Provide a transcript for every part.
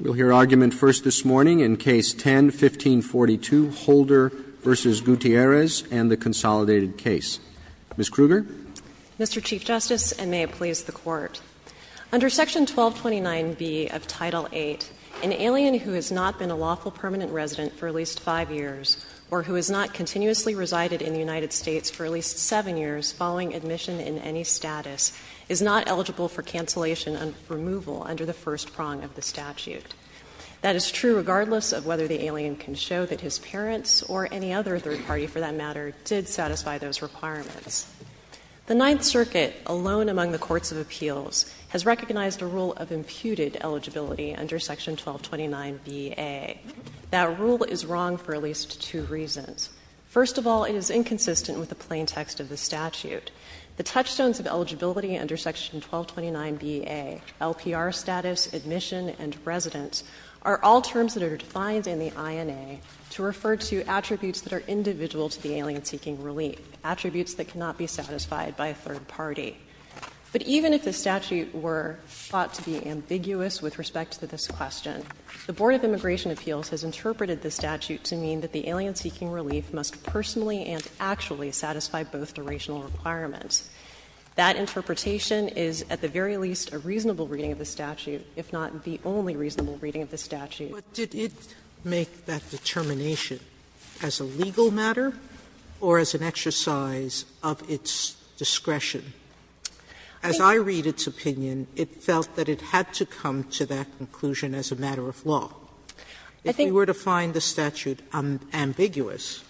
We'll hear argument first this morning in Case 10-1542, Holder v. Gutierrez and the consolidated case. Ms. Kruger. Ms. Kruger. Mr. Chief Justice, and may it please the Court. Under Section 1229b of Title VIII, an alien who has not been a lawful permanent resident for at least five years or who has not continuously resided in the United States for at least seven years following admission in any status is not eligible for cancellation and removal under the first prong of the statute. That is true regardless of whether the alien can show that his parents or any other third party, for that matter, did satisfy those requirements. The Ninth Circuit, alone among the courts of appeals, has recognized a rule of imputed eligibility under Section 1229bA. That rule is wrong for at least two reasons. First of all, it is inconsistent with the plain text of the statute. The touchstones of eligibility under Section 1229bA, LPR status, admission, and residence, are all terms that are defined in the INA to refer to attributes that are individual to the alien seeking relief, attributes that cannot be satisfied by a third party. But even if the statute were thought to be ambiguous with respect to this question, the Board of Immigration Appeals has interpreted the statute to mean that the alien That interpretation is, at the very least, a reasonable reading of the statute, if not the only reasonable reading of the statute. Sotomayor, did it make that determination as a legal matter or as an exercise of its discretion? As I read its opinion, it felt that it had to come to that conclusion as a matter of law. If we were to find the statute ambiguous,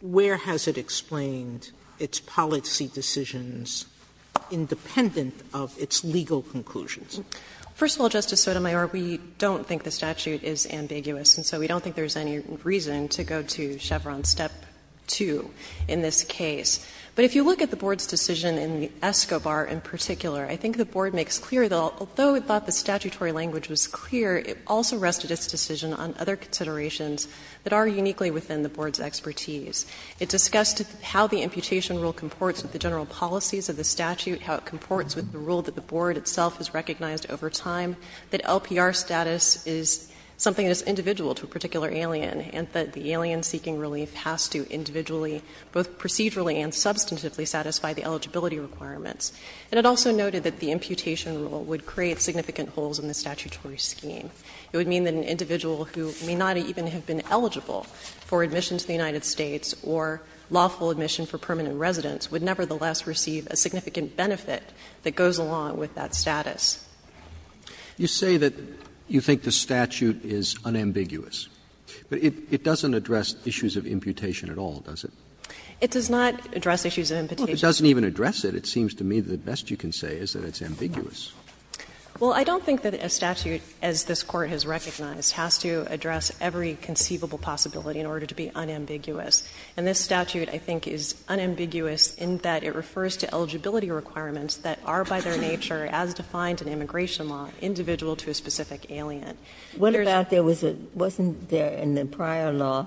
where has it explained the fact that the statute has explained its policy decisions independent of its legal conclusions? First of all, Justice Sotomayor, we don't think the statute is ambiguous, and so we don't think there's any reason to go to Chevron Step 2 in this case. But if you look at the Board's decision in the ESCOBAR in particular, I think the Board makes clear that although it thought the statutory language was clear, it also rested its decision on other considerations that are uniquely within the Board's expertise. It discussed how the imputation rule comports with the general policies of the statute, how it comports with the rule that the Board itself has recognized over time, that LPR status is something that is individual to a particular alien, and that the alien seeking relief has to individually, both procedurally and substantively, satisfy the eligibility requirements. And it also noted that the imputation rule would create significant holes in the statutory scheme. It would mean that an individual who may not even have been eligible for admission to the United States or lawful admission for permanent residence would nevertheless receive a significant benefit that goes along with that status. Roberts You say that you think the statute is unambiguous, but it doesn't address issues of imputation at all, does it? It does not address issues of imputation. It doesn't even address it. It seems to me the best you can say is that it's ambiguous. Well, I don't think that a statute, as this Court has recognized, has to address every conceivable possibility in order to be unambiguous. And this statute, I think, is unambiguous in that it refers to eligibility requirements that are by their nature, as defined in immigration law, individual to a specific alien. Ginsburg Wasn't there in the prior law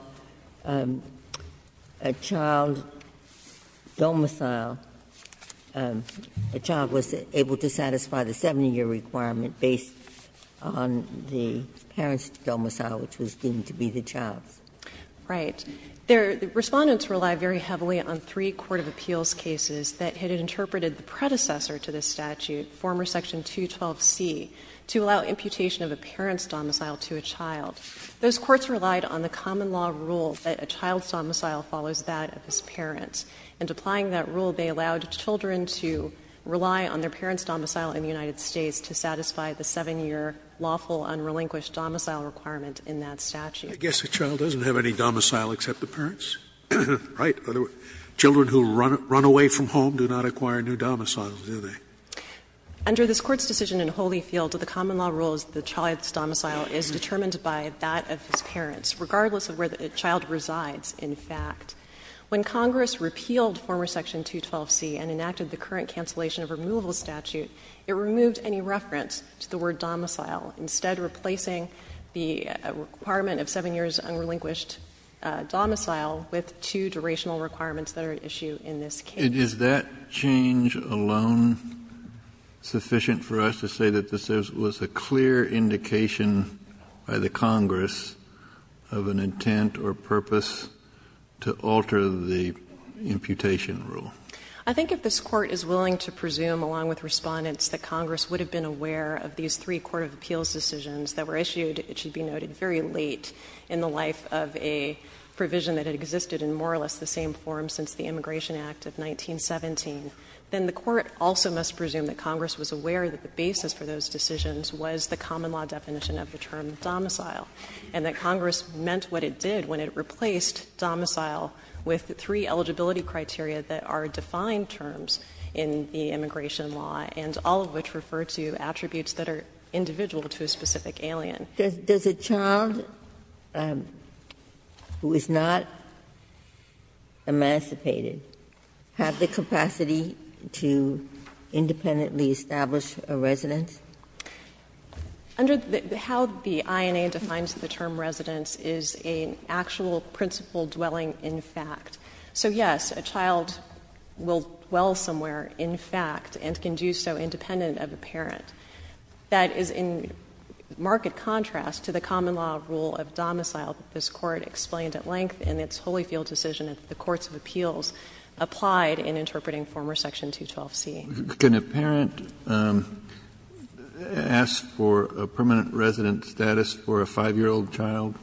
a child domicile, a child was able to satisfy the 70-year requirement based on the parent's domicile, which was deemed to be the child's? Right. Respondents relied very heavily on three court of appeals cases that had interpreted the predecessor to this statute, former section 212C, to allow imputation of a parent's domicile to a child. Those courts relied on the common law rule that a child's domicile follows that of his parent. And applying that rule, they allowed children to rely on their parent's domicile in the United States to satisfy the 7-year lawful unrelinquished domicile requirement in that statute. Scalia I guess the child doesn't have any domicile except the parents, right? Children who run away from home do not acquire new domiciles, do they? Respondent Under this Court's decision in Holyfield, the common law rule is that the child's domicile is determined by that of his parents, regardless of where the child resides, in fact. When Congress repealed former section 212C and enacted the current cancellation of removal statute, it removed any reference to the word domicile, instead replacing the requirement of 7 years unrelinquished domicile with two durational requirements that are at issue in this case. Kennedy Is that change alone sufficient for us to say that this was a clear indication by the Congress of an intent or purpose to alter the imputation rule? Respondent I think if this Court is willing to presume, along with Respondents, that Congress would have been aware of these three court of appeals decisions that were issued, it should be noted, very late in the life of a provision that had existed in more or less the same form since the Immigration Act of 1917, then the Court also must presume that Congress was aware that the basis for those decisions was the common law definition of the term domicile, and that Congress meant what it did when it replaced with three eligibility criteria that are defined terms in the immigration law, and all of which refer to attributes that are individual to a specific alien. Ginsburg Does a child who is not emancipated have the capacity to independently establish a residence? Respondent How the INA defines the term residence is an actual principle dwelling in fact. So, yes, a child will dwell somewhere in fact and can do so independent of a parent. That is in marked contrast to the common law rule of domicile that this Court explained at length in its Holyfield decision that the courts of appeals applied in interpreting former section 212C. Kennedy Can a parent ask for a permanent residence status for a 5-year-old child?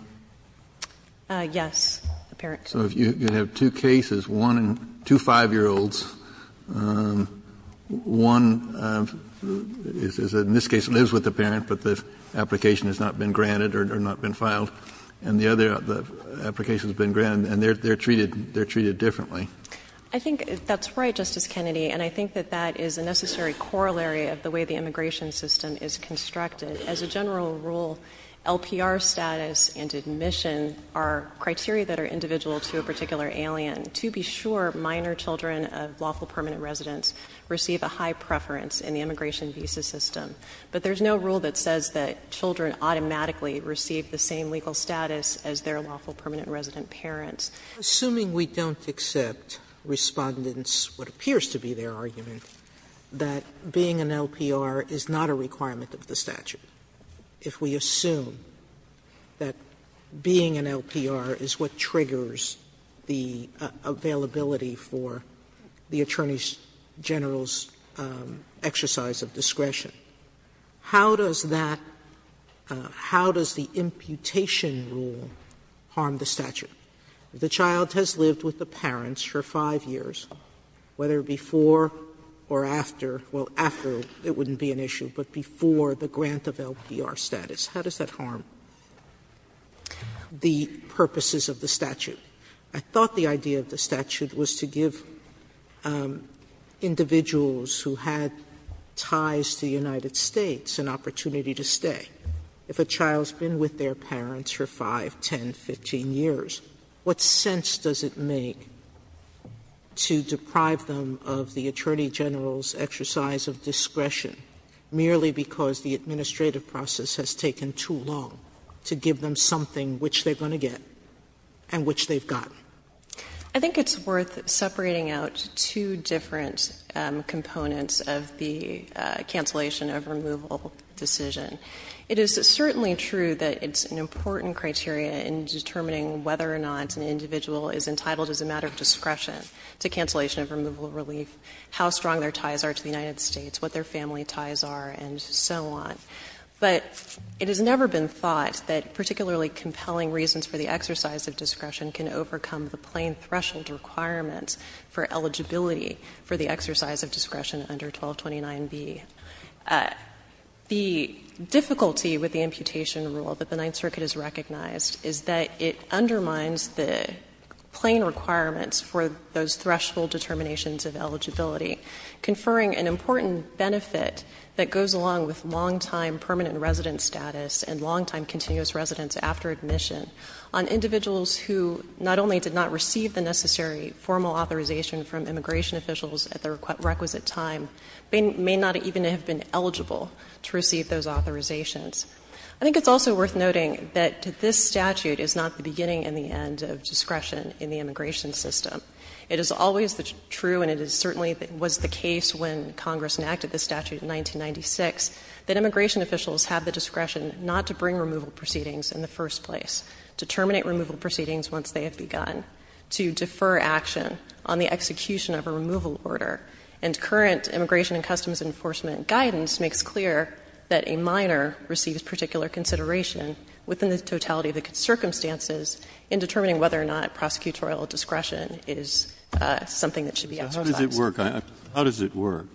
Respondent Yes, a parent can. Kennedy So if you have two cases, one in two 5-year-olds, one is in this case lives with the parent, but the application has not been granted or not been filed, and the other application has been granted, and they are treated differently. Respondent I think that's right, Justice Kennedy, and I think that that is a necessary corollary of the way the immigration system is constructed. As a general rule, LPR status and admission are criteria that are individual to a particular alien. To be sure, minor children of lawful permanent residence receive a high preference in the immigration visa system. But there is no rule that says that children automatically receive the same legal status as their lawful permanent resident parents. Sotomayor Assuming we don't accept Respondent's, what appears to be their argument, that being an LPR is not a requirement of the statute, if we assume that being an LPR is what triggers the availability for the Attorney General's exercise of discretion, how does that, how does the imputation rule harm the statute? The child has lived with the parents for 5 years, whether before or after, well, after it wouldn't be an issue, but before the grant of LPR status. How does that harm the purposes of the statute? I thought the idea of the statute was to give individuals who had ties to the United States an opportunity to stay. If a child's been with their parents for 5, 10, 15 years, what sense does it make to deprive them of the Attorney General's exercise of discretion merely because the administrative process has taken too long to give them something which they're going to get and which they've gotten? I think it's worth separating out two different components of the cancellation of removal decision. It is certainly true that it's an important criteria in determining whether or not an individual is entitled as a matter of discretion to cancellation of removal relief, how strong their ties are to the United States, what their family ties are and so on, but it has never been thought that particularly compelling reasons for the exercise of discretion can overcome the plain threshold requirements for eligibility for the exercise of discretion under 1229B. The difficulty with the imputation rule that the Ninth Circuit has recognized is that it undermines the plain requirements for those threshold determinations of eligibility, conferring an important benefit that goes along with long-time permanent resident status and long-time continuous residence after admission on individuals who not only did not receive the necessary formal authorization from immigration officials at the requisite time, may not even have been eligible to receive those authorizations. I think it's also worth noting that this statute is not the beginning and the end of discretion in the immigration system. It is always true, and it certainly was the case when Congress enacted this statute in 1996, that immigration officials have the discretion not to bring removal proceedings in the first place, to terminate removal proceedings once they have begun, to defer action on the execution of a removal order. And current Immigration and Customs Enforcement guidance makes clear that a minor receives particular consideration within the totality of the circumstances in determining whether or not prosecutorial discretion is something that should be exercised. Breyer. How does it work?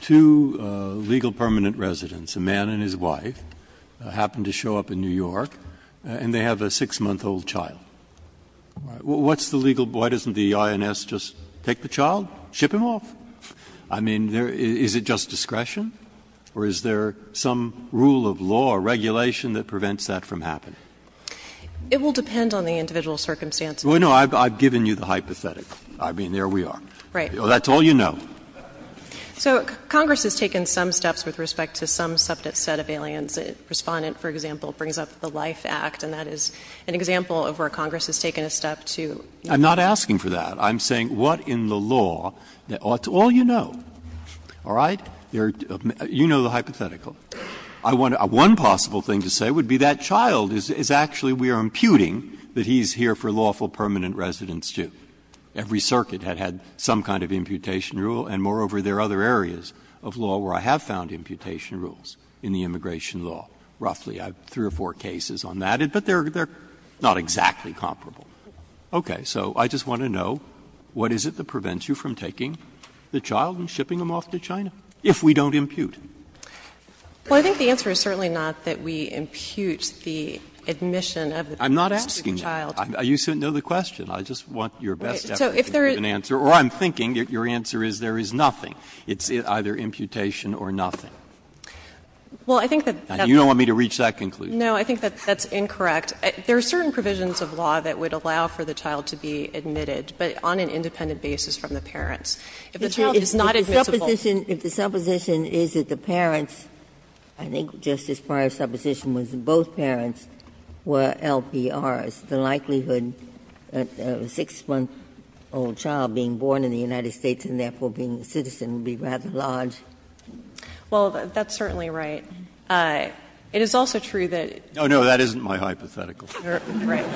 Two legal permanent residents, a man and his wife, happen to show up in New York and they have a 6-month-old child. What's the legal — why doesn't the INS just take the child, ship him off? I mean, is it just discretion, or is there some rule of law or regulation that prevents that from happening? It will depend on the individual circumstances. Well, no, I've given you the hypothetical. I mean, there we are. Right. That's all you know. So Congress has taken some steps with respect to some subject set of aliens. The Respondent, for example, brings up the Life Act, and that is an example of where Congress has taken a step to — I'm not asking for that. I'm saying what in the law — it's all you know. All right? You know the hypothetical. One possible thing to say would be that child is actually — we are imputing that he's here for lawful permanent residence, too. Every circuit had had some kind of imputation rule, and moreover, there are other areas of law where I have found imputation rules in the immigration law, roughly. I have three or four cases on that. But they are not exactly comparable. Okay. So I just want to know what is it that prevents you from taking the child and shipping him off to China if we don't impute? Well, I think the answer is certainly not that we impute the admission of the child. I'm not asking that. You know the question. I just want your best effort to give an answer. Or I'm thinking that your answer is there is nothing. It's either imputation or nothing. Well, I think that that's— You don't want me to reach that conclusion. No. I think that that's incorrect. There are certain provisions of law that would allow for the child to be admitted, but on an independent basis from the parents. If the child is not admissible— If the supposition is that the parents, I think Justice Breyer's supposition was that both parents were LPRs, the likelihood of a 6-month-old child being born in the United States and therefore being a citizen would be rather large. Well, that's certainly right. It is also true that— No, no. That isn't my hypothetical. Right.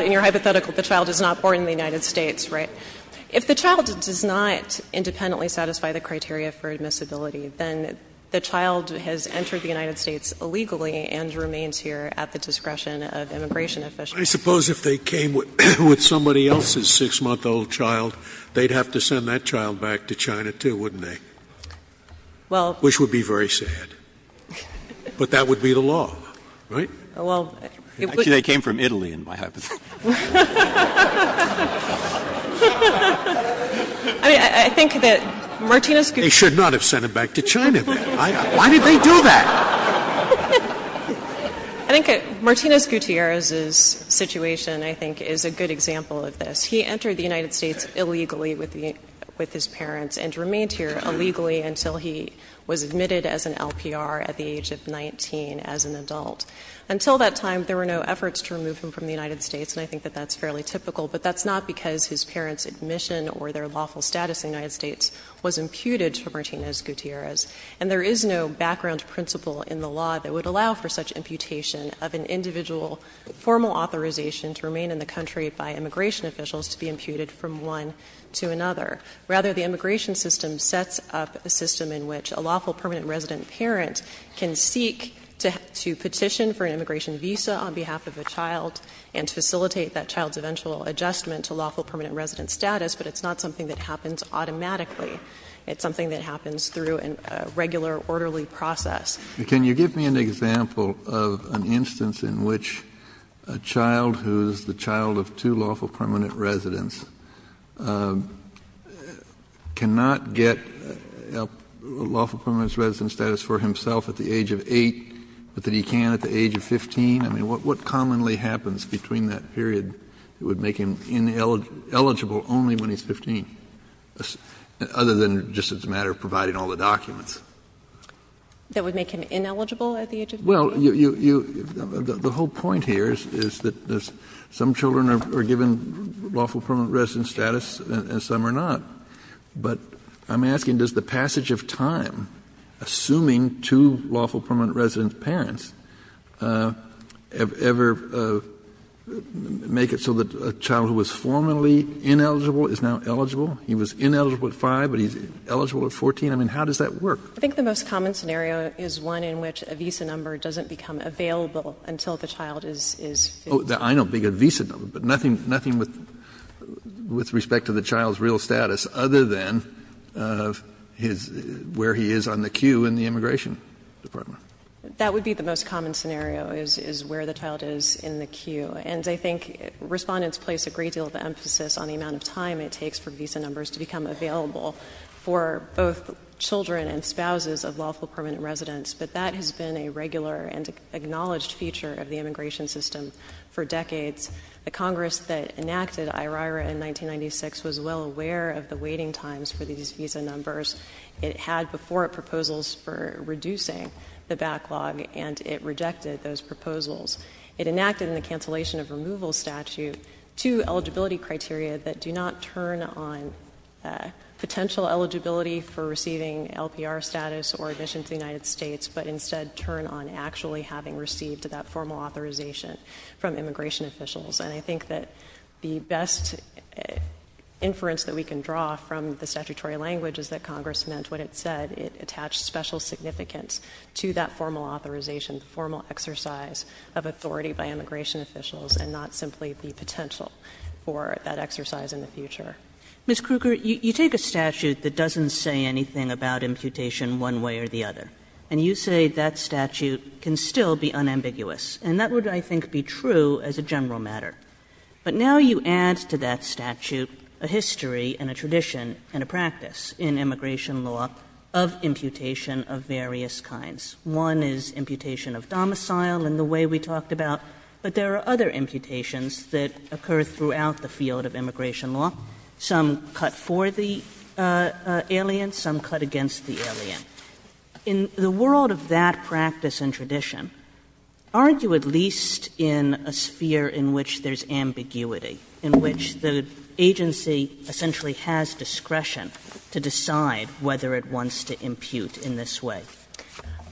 In your hypothetical, the child is not born in the United States, right? If the child does not independently satisfy the criteria for admissibility, then the child has entered the United States illegally and remains here at the discretion of immigration officials. I suppose if they came with somebody else's 6-month-old child, they'd have to send that child back to China, too, wouldn't they? Well— Which would be very sad. But that would be the law, right? Well— Actually, they came from Italy in my hypothetical. I mean, I think that Martinez— They should not have sent him back to China, then. Why did they do that? I think Martinez Gutierrez's situation, I think, is a good example of this. He entered the United States illegally with his parents and remained here illegally until he was admitted as an LPR at the age of 19 as an adult. Until that time, there were no efforts to remove him from the United States, and I think that that's fairly typical. But that's not because his parents' admission or their lawful status in the United States were Martinez Gutierrez's. And there is no background principle in the law that would allow for such imputation of an individual formal authorization to remain in the country by immigration officials to be imputed from one to another. Rather, the immigration system sets up a system in which a lawful permanent resident parent can seek to petition for an immigration visa on behalf of a child and to facilitate that child's eventual adjustment to lawful permanent resident status, but it's not something that happens automatically. It's something that happens through a regular orderly process. Can you give me an example of an instance in which a child who's the child of two lawful permanent residents cannot get lawful permanent resident status for himself at the age of 8, but that he can at the age of 15? I mean, what commonly happens between that period that would make him eligible only when he's 15? Other than just as a matter of providing all the documents. That would make him ineligible at the age of 15? Well, you — the whole point here is that some children are given lawful permanent resident status and some are not. But I'm asking, does the passage of time, assuming two lawful permanent resident parents, ever make it so that a child who was formerly ineligible is now eligible — he was ineligible at 5, but he's eligible at 14? I mean, how does that work? I think the most common scenario is one in which a visa number doesn't become available until the child is 15. Oh, I know. A visa number. But nothing with respect to the child's real status other than his — where he is on the queue in the immigration department. That would be the most common scenario, is where the child is in the queue. And I think Respondents place a great deal of emphasis on the amount of time it takes for visa numbers to become available for both children and spouses of lawful permanent residents. But that has been a regular and acknowledged feature of the immigration system for decades. The Congress that enacted IRIRA in 1996 was well aware of the waiting times for these visa numbers. It had before it proposals for reducing the backlog, and it rejected those proposals. It enacted in the cancellation of removal statute two eligibility criteria that do not turn on potential eligibility for receiving LPR status or admission to the United States, but instead turn on actually having received that formal authorization from immigration officials. And I think that the best inference that we can draw from the statutory language is that Congress meant what it said. It attached special significance to that formal authorization, the formal exercise of authority by immigration officials, and not simply the potential for that exercise in the future. Kagan, you take a statute that doesn't say anything about imputation one way or the other, and you say that statute can still be unambiguous, and that would, I think, be true as a general matter. But now you add to that statute a history and a tradition and a practice in immigration law of imputation of various kinds. One is imputation of domicile in the way we talked about, but there are other imputations that occur throughout the field of immigration law. Some cut for the alien, some cut against the alien. In the world of that practice and tradition, aren't you at least in a sphere in which there is ambiguity, in which the agency essentially has discretion to decide whether it wants to impute in this way?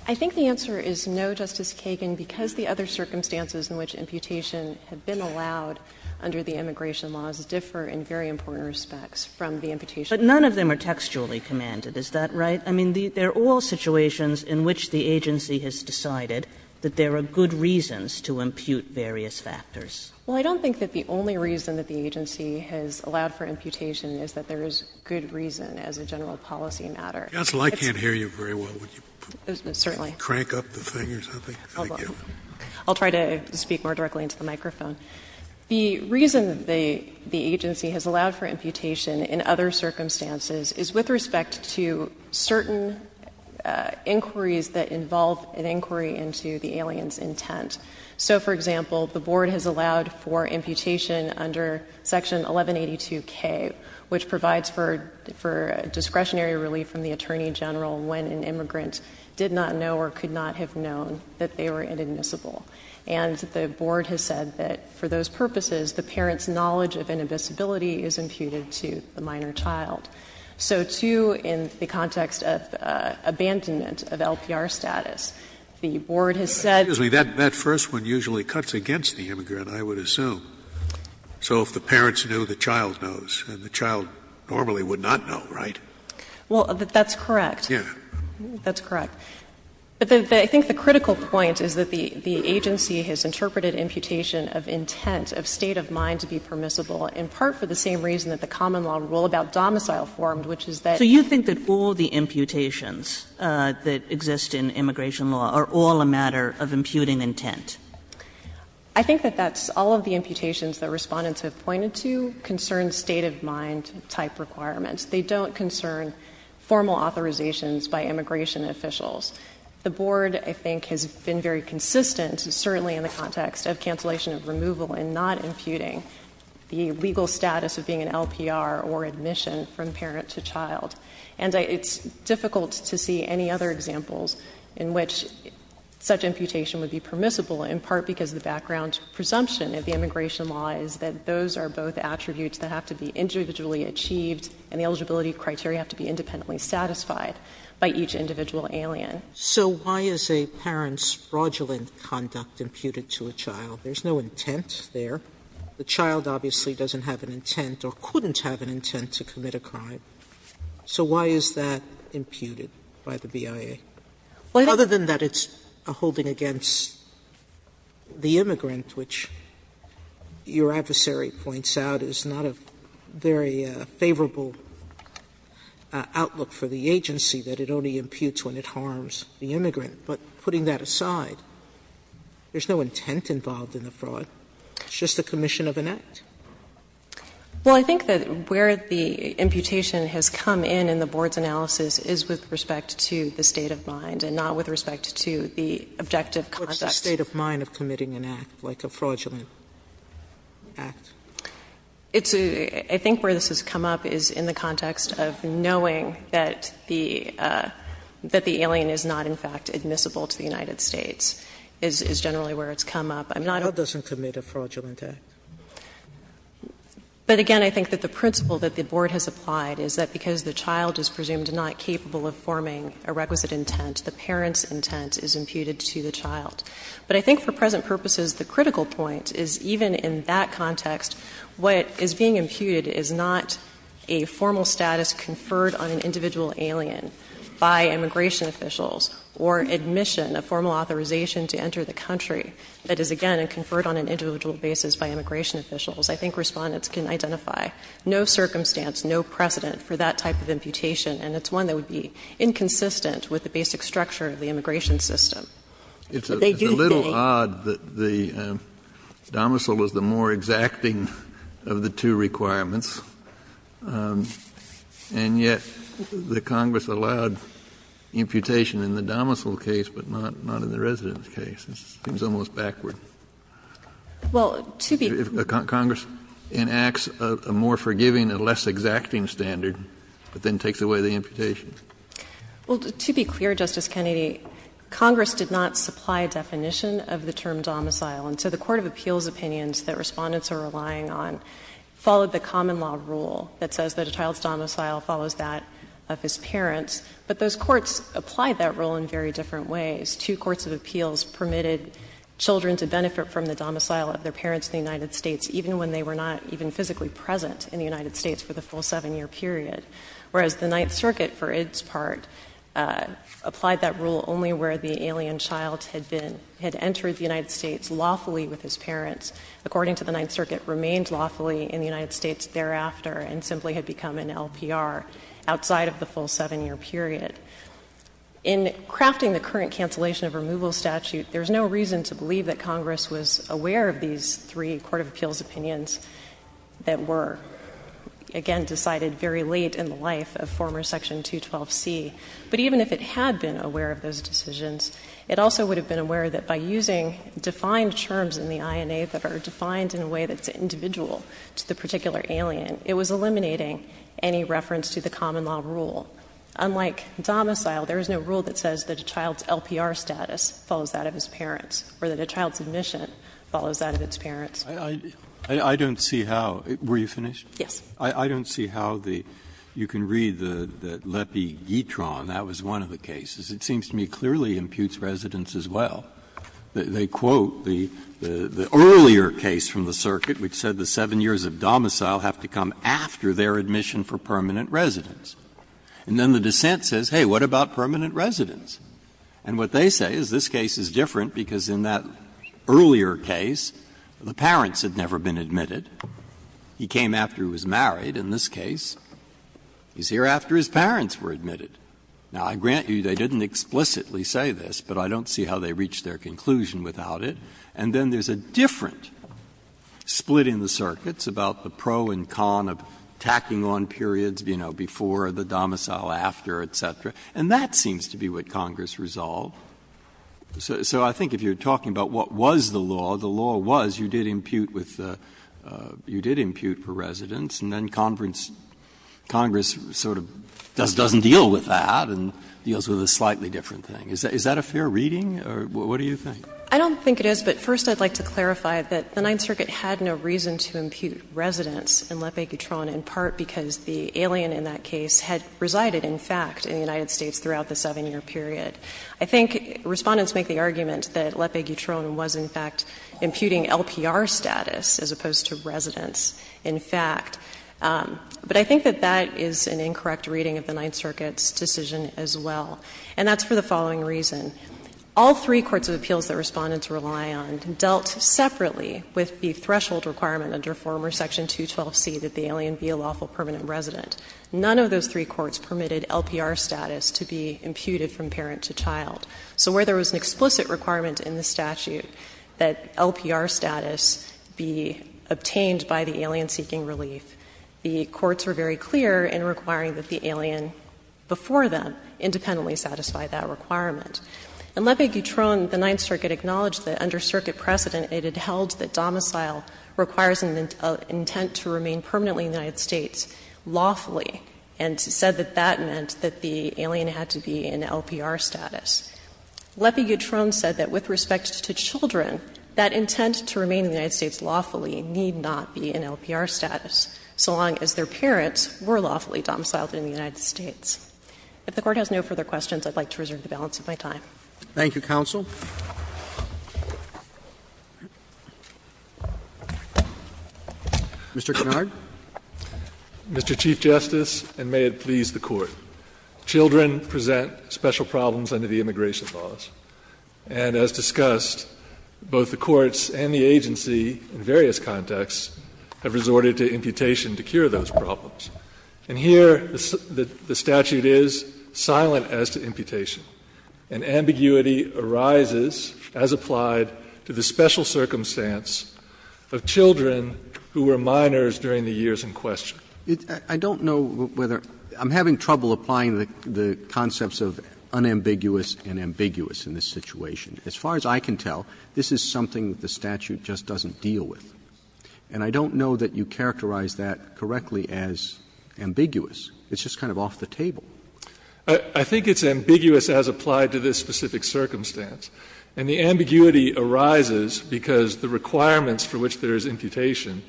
I think the answer is no, Justice Kagan, because the other circumstances in which imputation had been allowed under the immigration laws differ in very important respects from the imputation. But none of them are textually commanded. Is that right? I mean, they are all situations in which the agency has decided that there are good reasons to impute various factors. Well, I don't think that the only reason that the agency has allowed for imputation is that there is good reason as a general policy matter. Counsel, I can't hear you very well. Would you crank up the thing or something? I'll try to speak more directly into the microphone. The reason the agency has allowed for imputation in other circumstances is with respect to certain inquiries that involve an inquiry into the alien's intent. So, for example, the Board has allowed for imputation under Section 1182K, which discretionary relief from the Attorney General when an immigrant did not know or could not have known that they were inadmissible. And the Board has said that for those purposes, the parent's knowledge of inadmissibility is imputed to the minor child. So, too, in the context of abandonment of LPR status, the Board has said — Excuse me. That first one usually cuts against the immigrant, I would assume. So if the parents knew, the child knows. And the child normally would not know, right? Well, that's correct. Yes. That's correct. But I think the critical point is that the agency has interpreted imputation of intent, of state of mind to be permissible, in part for the same reason that the common law rule about domicile formed, which is that— So you think that all the imputations that exist in immigration law are all a matter of imputing intent? I think that that's — all of the imputations that Respondents have pointed to concern state of mind type requirements. They don't concern formal authorizations by immigration officials. The Board, I think, has been very consistent, certainly in the context of cancellation of removal and not imputing the legal status of being an LPR or admission from parent to child. And it's difficult to see any other examples in which such imputation would be permissible in part because the background presumption of the immigration law is that those are both attributes that have to be individually achieved and the eligibility criteria have to be independently satisfied by each individual alien. So why is a parent's fraudulent conduct imputed to a child? There's no intent there. The child obviously doesn't have an intent or couldn't have an intent to commit a crime. So why is that imputed by the BIA? Other than that it's a holding against the immigrant, which your adversary points out is not a very favorable outlook for the agency, that it only imputes when it harms the immigrant. But putting that aside, there's no intent involved in the fraud. It's just a commission of an act. Well, I think that where the imputation has come in in the Board's analysis is with respect to the state of mind and not with respect to the objective context. What's the state of mind of committing an act, like a fraudulent act? It's a ‑‑ I think where this has come up is in the context of knowing that the alien is not in fact admissible to the United States is generally where it's come up. I'm not— A child doesn't commit a fraudulent act. But again, I think that the principle that the Board has applied is that because the child is presumed not capable of forming a requisite intent, the parent's intent is imputed to the child. But I think for present purposes the critical point is even in that context what is being imputed is not a formal status conferred on an individual alien by immigration officials or admission, a formal authorization to enter the country that is again conferred on an individual basis by immigration officials. I think Respondents can identify no circumstance, no precedent for that type of imputation. And it's one that would be inconsistent with the basic structure of the immigration But they do think ‑‑ It's a little odd that the domicile is the more exacting of the two requirements, and yet the Congress allowed imputation in the domicile case but not in the residence case. It seems almost backward. Well, to be ‑‑ Congress enacts a more forgiving and less exacting standard but then takes away the imputation. Well, to be clear, Justice Kennedy, Congress did not supply a definition of the term domicile. And so the court of appeals opinions that Respondents are relying on followed the common law rule that says that a child's domicile follows that of his parents. But those courts applied that rule in very different ways. Two courts of appeals permitted children to benefit from the domicile of their parents in the United States even when they were not even physically present in the United States for the full 7-year period, whereas the Ninth Circuit, for its part, applied that rule only where the alien child had been ‑‑ had entered the United States lawfully with his parents, according to the Ninth Circuit, remained lawfully in the United States thereafter and simply had become an LPR outside of the full 7-year period. In crafting the current cancellation of removal statute, there's no reason to believe that Congress was aware of these three court of appeals opinions that were, again, decided very late in the life of former Section 212C. But even if it had been aware of those decisions, it also would have been aware that by using defined terms in the INA that are defined in a way that's individual to the particular alien, it was eliminating any reference to the common law rule. Unlike domicile, there is no rule that says that a child's LPR status follows that of its parents or that a child's admission follows that of its parents. Breyer I don't see how ‑‑ were you finished? O'Connell. Yes. Breyer I don't see how the ‑‑ you can read that Lepi-Gitron, that was one of the cases. It seems to me clearly imputes residence as well. They quote the earlier case from the circuit which said the 7 years of domicile have to come after their admission for permanent residence. And then the dissent says, hey, what about permanent residence? And what they say is this case is different because in that earlier case, the parents had never been admitted. He came after he was married. In this case, he's here after his parents were admitted. Now, I grant you, they didn't explicitly say this, but I don't see how they reached their conclusion without it. And then there's a different split in the circuits about the pro and con of tacking on periods, you know, before the domicile, after, et cetera. And that seems to be what Congress resolved. So I think if you're talking about what was the law, the law was you did impute with the ‑‑ you did impute for residence, and then Congress sort of doesn't deal with that and deals with a slightly different thing. Is that a fair reading, or what do you think? I don't think it is, but first I'd like to clarify that the Ninth Circuit had no reason to impute residence in Lepi-Gitron, in part because the alien in that case had resided, in fact, in the United States throughout the 7-year period. I think Respondents make the argument that Lepi-Gitron was, in fact, imputing LPR status as opposed to residence, in fact. But I think that that is an incorrect reading of the Ninth Circuit's decision as well, and that's for the following reason. All three courts of appeals that Respondents rely on dealt separately with the threshold requirement under former section 212C that the alien be a lawful permanent resident. None of those three courts permitted LPR status to be imputed from parent to child. So where there was an explicit requirement in the statute that LPR status be obtained by the alien seeking relief, the courts were very clear in requiring that the alien before them independently satisfy that requirement. In Lepi-Gitron, the Ninth Circuit acknowledged that under circuit precedent, it had held that domicile requires an intent to remain permanently in the United States lawfully, and said that that meant that the alien had to be in LPR status. Lepi-Gitron said that with respect to children, that intent to remain in the United States lawfully need not be in LPR status, so long as their parents were lawfully domiciled in the United States. If the Court has no further questions, I would like to reserve the balance of my time. Roberts. Thank you, counsel. Mr. Kennard. Mr. Chief Justice, and may it please the Court. Children present special problems under the immigration laws. And as discussed, both the courts and the agency in various contexts have resorted to imputation to cure those problems. And here the statute is silent as to imputation, and ambiguity arises, as applied to the special circumstance of children who were minors during the years in question. I don't know whether — I'm having trouble applying the concepts of unambiguous and ambiguous in this situation. As far as I can tell, this is something that the statute just doesn't deal with. And I don't know that you characterize that correctly as ambiguous. It's just kind of off the table. I think it's ambiguous as applied to this specific circumstance. And the ambiguity arises because the requirements for which there is imputation,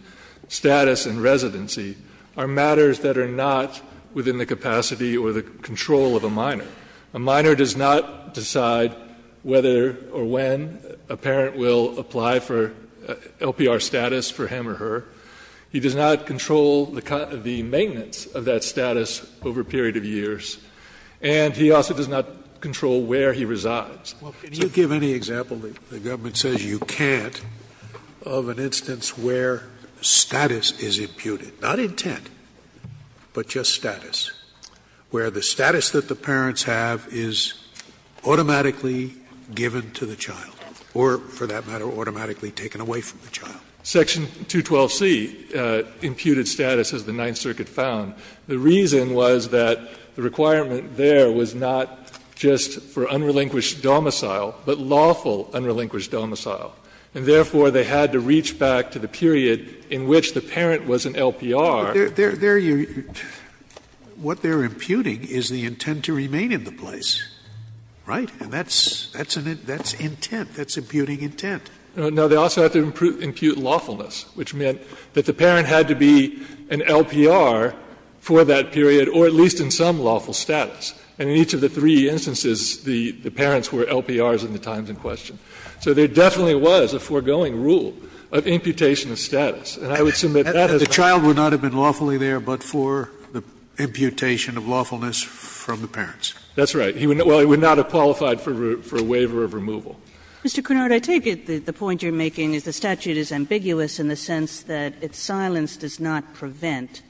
status and residency, are matters that are not within the capacity or the control of a minor. A minor does not decide whether or when a parent will apply for LPR status for him or her. He does not control the maintenance of that status over a period of years. And he also does not control where he resides. Scalia. Well, can you give any example that the government says you can't of an instance where status is imputed? Not intent, but just status. Where the status that the parents have is automatically given to the child or, for that matter, automatically taken away from the child. Section 212C imputed status as the Ninth Circuit found. The reason was that the requirement there was not just for unrelinquished domicile, but lawful unrelinquished domicile. And therefore, they had to reach back to the period in which the parent was in LPR. Scalia. But there you are. What they are imputing is the intent to remain in the place, right? And that's intent. That's imputing intent. No, they also have to impute lawfulness, which meant that the parent had to be in LPR for that period or at least in some lawful status. And in each of the three instances, the parents were LPRs in the times in question. So there definitely was a foregoing rule of imputation of status. And I would submit that as well. Scalia. But the child would not have been lawfully there but for the imputation of lawfulness from the parents. That's right. Well, he would not have qualified for a waiver of removal. Mr. Cunard, I take it that the point you're making is the statute is ambiguous in the sense that its silence does not prevent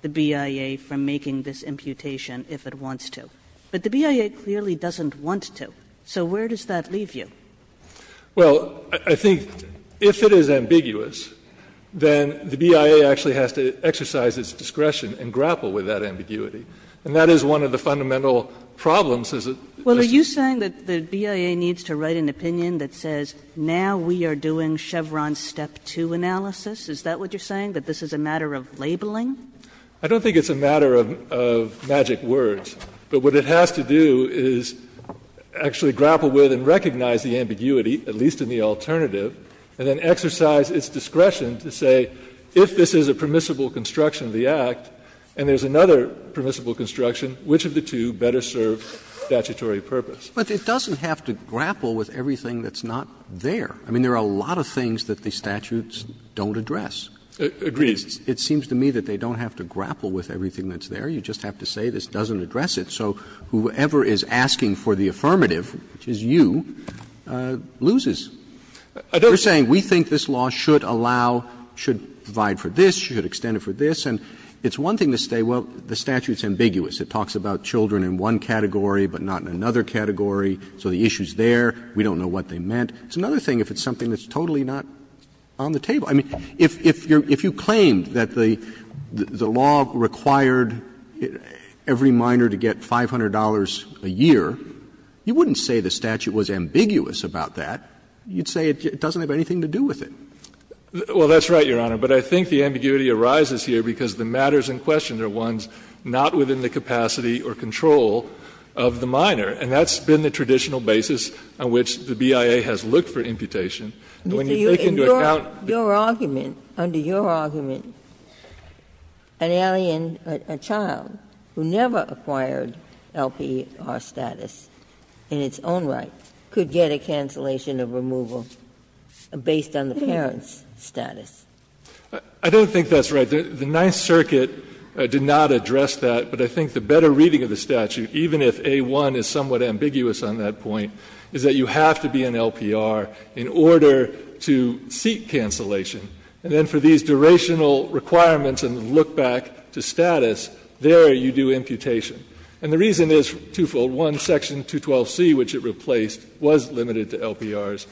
the BIA from making this imputation if it wants to. But the BIA clearly doesn't want to. So where does that leave you? Well, I think if it is ambiguous, then the BIA actually has to exercise its discretion and grapple with that ambiguity. And that is one of the fundamental problems, is that this is a matter of labeling. Well, are you saying that the BIA needs to write an opinion that says, now we are doing Chevron's step 2 analysis? Is that what you're saying, that this is a matter of labeling? I don't think it's a matter of magic words. But what it has to do is actually grapple with and recognize the ambiguity, at least in the alternative, and then exercise its discretion to say, if this is a permissible construction of the Act and there is another permissible construction, which of the two better serve statutory purpose? But it doesn't have to grapple with everything that's not there. I mean, there are a lot of things that the statutes don't address. Agreed. It seems to me that they don't have to grapple with everything that's there. You just have to say this doesn't address it. So whoever is asking for the affirmative, which is you, loses. You're saying we think this law should allow, should provide for this, should extend it for this, and it's one thing to say, well, the statute is ambiguous. It talks about children in one category but not in another category, so the issue is there. We don't know what they meant. It's another thing if it's something that's totally not on the table. I mean, if you claim that the law required every minor to get $500 a year, you wouldn't say the statute was ambiguous about that. You'd say it doesn't have anything to do with it. Well, that's right, Your Honor. But I think the ambiguity arises here because the matters in question are ones not within the capacity or control of the minor, and that's been the traditional basis on which the BIA has looked for imputation. And when you take into account the statute, the statute is ambiguous about that. Ginsburg's argument, under your argument, an alien, a child, who never acquired LPR status in its own right, could get a cancellation of removal based on the parent's status. I don't think that's right. The Ninth Circuit did not address that, but I think the better reading of the statute, even if A-1 is somewhat ambiguous on that point, is that you have to be an LPR in order to seek cancellation. And then for these durational requirements and look back to status, there you do imputation. And the reason is twofold. One, section 212C, which it replaced, was limited to LPRs.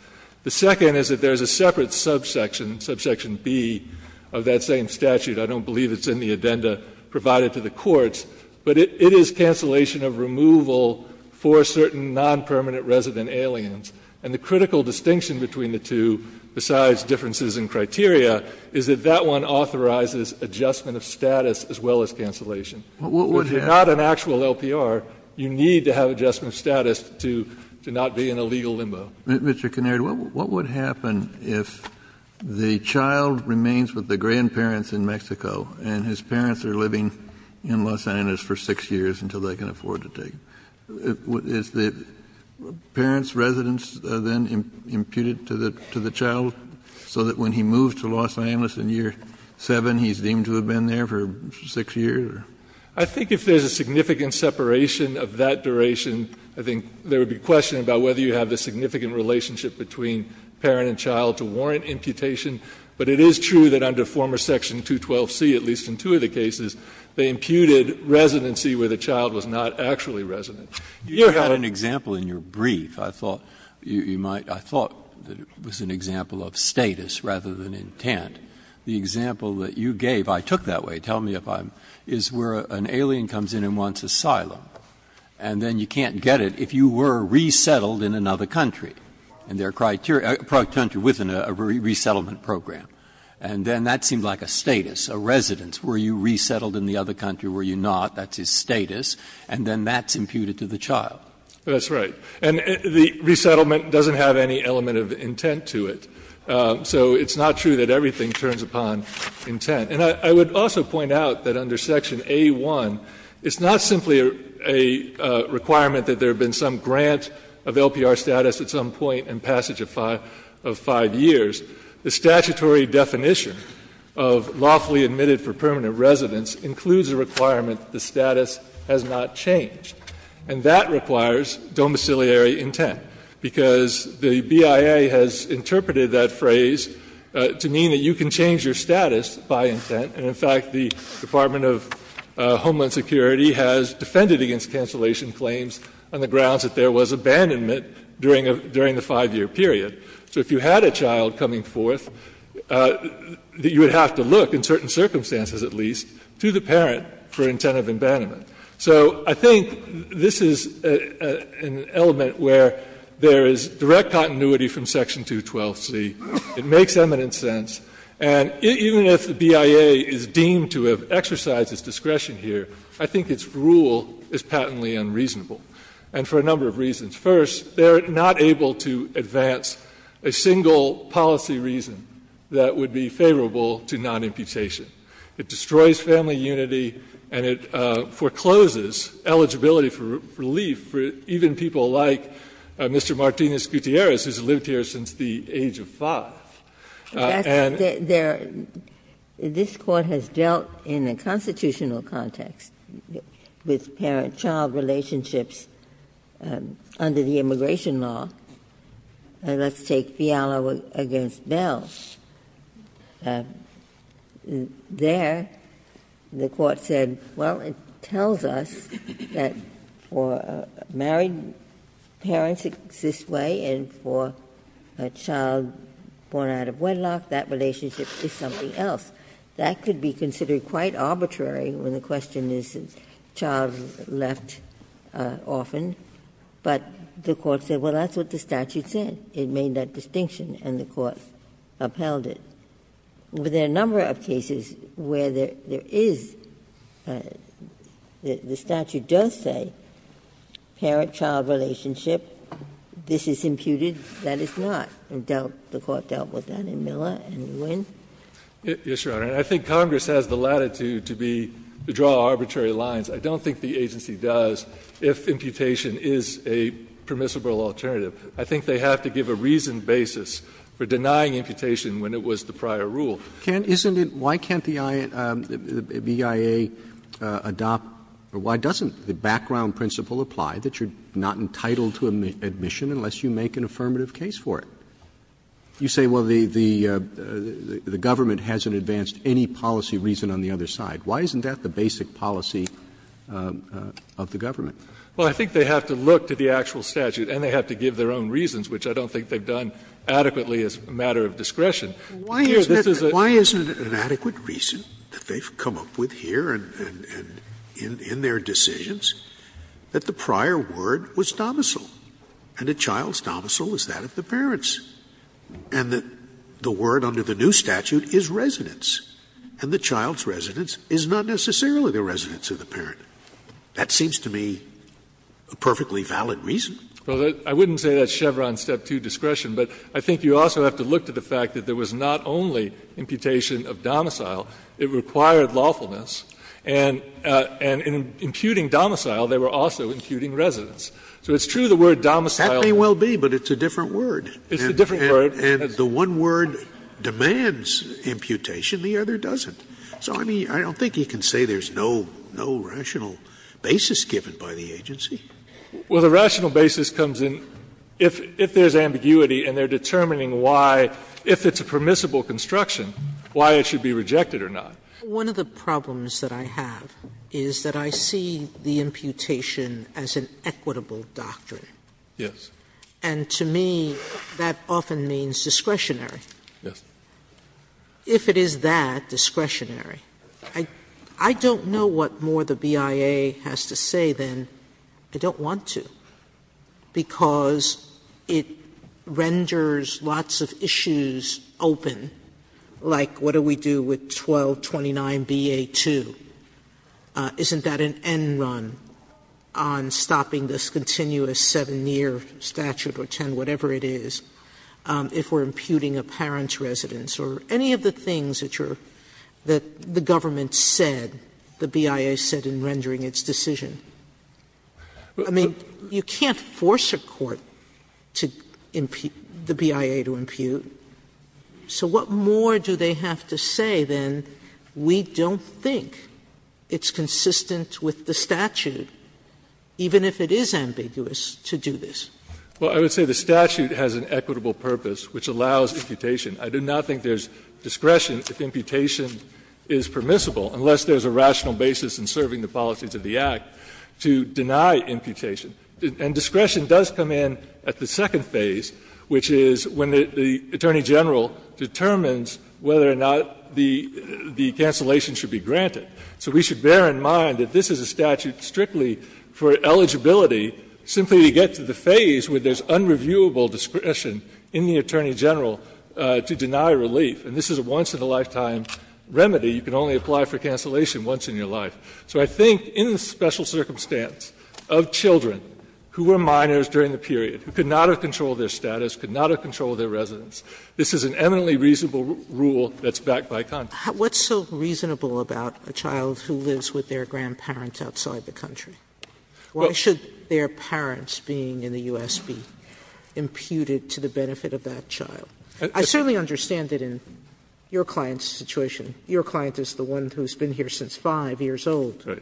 The second is that there is a separate subsection, subsection B, of that same statute. I don't believe it's in the addenda provided to the courts. But it is cancellation of removal for certain nonpermanent resident aliens. And the critical distinction between the two, besides differences in criteria, is that that one authorizes adjustment of status as well as cancellation. Kennedy, if you're not an actual LPR, you need to have adjustment of status to not be in a legal limbo. Kennedy, what would happen if the child remains with the grandparents in Mexico and his parents are living in Los Angeles for 6 years until they can afford to take him? Is the parent's residence then imputed to the child so that when he moves to Los Angeles in year 7, he's deemed to have been there for 6 years? I think if there's a significant separation of that duration, I think there would be question about whether you have the significant relationship between parent and child to warrant imputation. But it is true that under former section 212C, at least in two of the cases, they imputed residency where the child was not actually resident. Breyer, you had an example in your brief. I thought you might – I thought it was an example of status rather than intent. The example that you gave, I took that way, tell me if I'm – is where an alien comes in and wants asylum. And then you can't get it if you were resettled in another country. And there are criteria – a country within a resettlement program. And then that seemed like a status, a residence. Were you resettled in the other country? Were you not? That's his status. And then that's imputed to the child. That's right. And the resettlement doesn't have any element of intent to it. So it's not true that everything turns upon intent. And I would also point out that under section A-1, it's not simply a requirement that there have been some grant of LPR status at some point in passage of five years. The statutory definition of lawfully admitted for permanent residence includes a requirement that the status has not changed. And that requires domiciliary intent, because the BIA has interpreted that phrase to mean that you can change your status by intent. And in fact, the Department of Homeland Security has defended against cancellation claims on the grounds that there was abandonment during the five-year period. So if you had a child coming forth, you would have to look, in certain circumstances at least, to the parent for intent of abandonment. So I think this is an element where there is direct continuity from section 212C. It makes eminent sense. And even if the BIA is deemed to have exercised its discretion here, I think its rule is patently unreasonable, and for a number of reasons. First, they are not able to advance a single policy reason that would be favorable to non-imputation. It destroys family unity and it forecloses eligibility for relief for even people like Mr. Martinez-Gutierrez, who has lived here since the age of five. And they're their This Court has dealt in a constitutional context with patently non-imputation parent-child relationships under the immigration law. Let's take Fiala v. Bell. There, the Court said, well, it tells us that for married parents it's this way, and for a child born out of wedlock, that relationship is something else. That could be considered quite arbitrary when the question is child left often. But the Court said, well, that's what the statute said. It made that distinction, and the Court upheld it. There are a number of cases where there is the statute does say parent-child relationship, this is imputed, that is not. The Court dealt with that in Miller and Lewin. Yes, Your Honor. And I think Congress has the latitude to be to draw arbitrary lines. I don't think the agency does if imputation is a permissible alternative. I think they have to give a reasoned basis for denying imputation when it was the prior rule. Roberts, isn't it why can't the BIA adopt, or why doesn't the background principle apply that you're not entitled to admission unless you make an affirmative case for it? You say, well, the government hasn't advanced any policy reason on the other side. Why isn't that the basic policy of the government? Well, I think they have to look to the actual statute and they have to give their own reasons, which I don't think they've done adequately as a matter of discretion. Here, this is a question of whether there is an adequate reason that they've come up with here and in their decisions that the prior word was domicile, and a child's domicile is the parents, and the word under the new statute is residence, and the child's residence is not necessarily the residence of the parent. That seems to me a perfectly valid reason. Well, I wouldn't say that's Chevron's step 2 discretion, but I think you also have to look to the fact that there was not only imputation of domicile, it required lawfulness, and in imputing domicile, they were also imputing residence. So it's true the word domicile. That may well be, but it's a different word. It's a different word. And the one word demands imputation, the other doesn't. So, I mean, I don't think you can say there's no rational basis given by the agency. Well, the rational basis comes in if there's ambiguity and they're determining why, if it's a permissible construction, why it should be rejected or not. One of the problems that I have is that I see the imputation as an equitable doctrine. Yes. And to me, that often means discretionary. Yes. If it is that, discretionary. I don't know what more the BIA has to say, then. I don't want to, because it renders lots of issues open, like what do we do with 1229bA2. Isn't that an end run on stopping this continuous 7-year statute or 10, whatever it is, if we're imputing a parent's residence or any of the things that you're – that the government said, the BIA said in rendering its decision? I mean, you can't force a court to impute – the BIA to impute. So what more do they have to say, then, we don't think it's consistent with the statute, even if it is ambiguous, to do this? Well, I would say the statute has an equitable purpose which allows imputation. I do not think there's discretion if imputation is permissible, unless there's a rational basis in serving the policies of the Act to deny imputation. And discretion does come in at the second phase, which is when the Attorney General determines whether or not the cancellation should be granted. So we should bear in mind that this is a statute strictly for eligibility simply to get to the phase where there's unreviewable discretion in the Attorney General to deny relief. And this is a once-in-a-lifetime remedy. You can only apply for cancellation once in your life. So I think in the special circumstance of children who were minors during the period, who could not have controlled their status, could not have controlled their residence, this is an eminently reasonable rule that's backed by Congress. Sotomayor, what's so reasonable about a child who lives with their grandparents outside the country? Why should their parents being in the U.S. be imputed to the benefit of that child? I certainly understand that in your client's situation, your client is the one who's been here since 5 years old. So.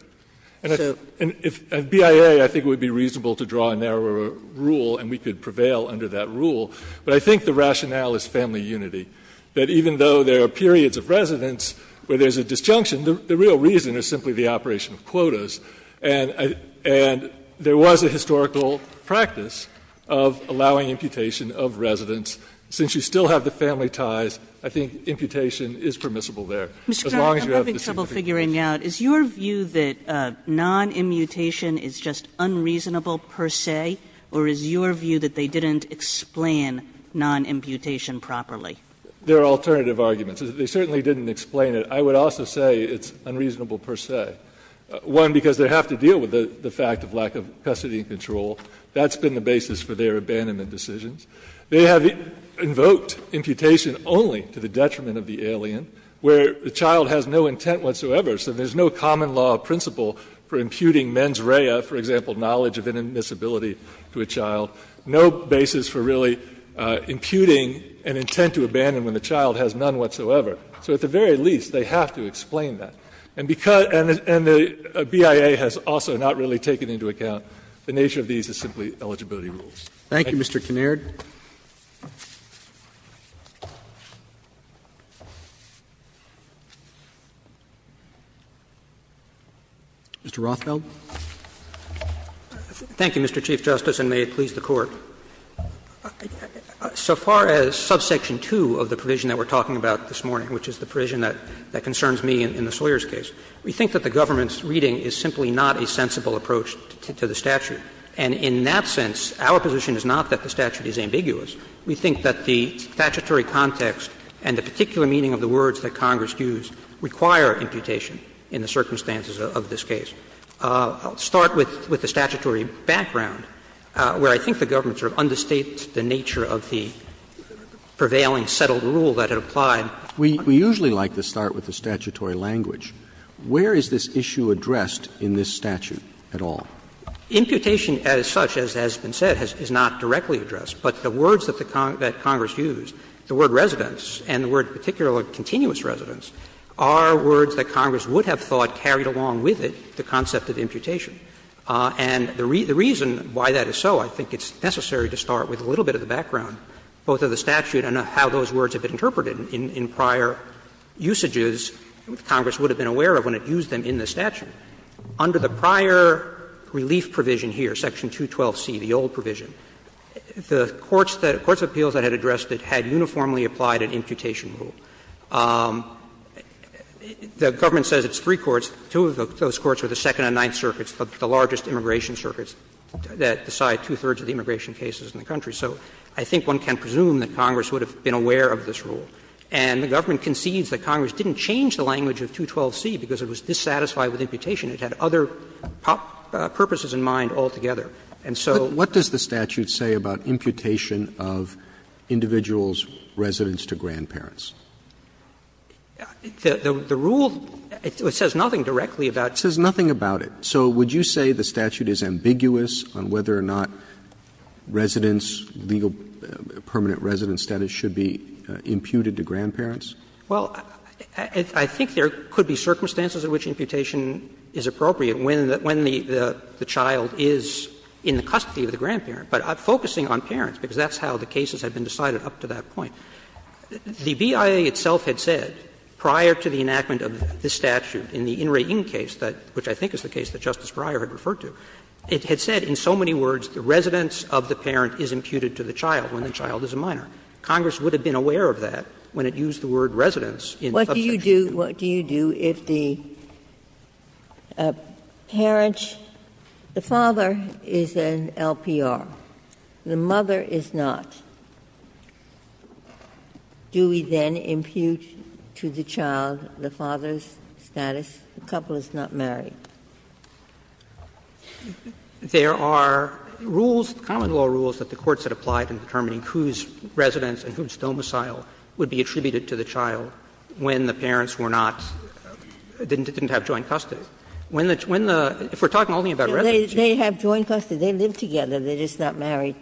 And BIA, I think it would be reasonable to draw a narrower rule and we could prevail under that rule. But I think the rationale is family unity, that even though there are periods of residence where there's a disjunction, the real reason is simply the operation of quotas. And there was a historical practice of allowing imputation of residence. Since you still have the family ties, I think imputation is permissible there. As long as you have the same thing. Kagan, I'm having trouble figuring out, is your view that non-immutation is just unreasonable per se, or is your view that they didn't explain non-imputation properly? There are alternative arguments. They certainly didn't explain it. I would also say it's unreasonable per se. One, because they have to deal with the fact of lack of custody and control. That's been the basis for their abandonment decisions. The child has no intent whatsoever, so there's no common law principle for imputing mens rea, for example, knowledge of inadmissibility to a child. No basis for really imputing an intent to abandon when the child has none whatsoever. So at the very least, they have to explain that. And because the BIA has also not really taken into account the nature of these as simply eligibility rules. Thank you. Thank you, Mr. Kinnaird. Mr. Rothfeld. Thank you, Mr. Chief Justice, and may it please the Court. So far as subsection 2 of the provision that we're talking about this morning, which is the provision that concerns me in the Sawyers case, we think that the government's reading is simply not a sensible approach to the statute. And in that sense, our position is not that the statute is ambiguous. We think that the statutory context and the particular meaning of the words that Congress used require imputation in the circumstances of this case. I'll start with the statutory background, where I think the government sort of understates the nature of the prevailing settled rule that had applied. We usually like to start with the statutory language. Where is this issue addressed in this statute at all? Imputation as such, as has been said, is not directly addressed. But the words that Congress used, the word ''residence'' and the word in particular ''continuous residence'', are words that Congress would have thought carried along with it the concept of imputation. And the reason why that is so, I think it's necessary to start with a little bit of the background, both of the statute and how those words have been interpreted in prior usages that Congress would have been aware of when it used them in the statute. Under the prior relief provision here, section 212C, the old provision, the courts that the courts of appeals that had addressed it had uniformly applied an imputation rule. The government says it's three courts. Two of those courts are the Second and Ninth Circuits, the largest immigration circuits that decide two-thirds of the immigration cases in the country. So I think one can presume that Congress would have been aware of this rule. And the government concedes that Congress didn't change the language of 212C because it was dissatisfied with imputation. It had other purposes in mind altogether. And so what does the statute say about imputation of individuals' residence to grandparents? The rule, it says nothing directly about it. It says nothing about it. So would you say the statute is ambiguous on whether or not residence, legal permanent residence status should be imputed to grandparents? Well, I think there could be circumstances in which imputation is appropriate when the child is in the custody of the grandparent. But I'm focusing on parents because that's how the cases have been decided up to that point. The BIA itself had said prior to the enactment of this statute in the In Re In case, which I think is the case that Justice Breyer had referred to, it had said in so many words the residence of the parent is imputed to the child when the child is a minor. Congress would have been aware of that when it used the word residence in subsection 2. What do you do if the parent, the father is an LPR, the mother is not? Do we then impute to the child the father's status, the couple is not married? There are rules, common law rules, that the courts had applied in determining whose residence and whose domicile would be attributed to the child when the parents were not, didn't have joint custody. When the, if we're talking only about residence. They have joint custody, they live together, they're just not married.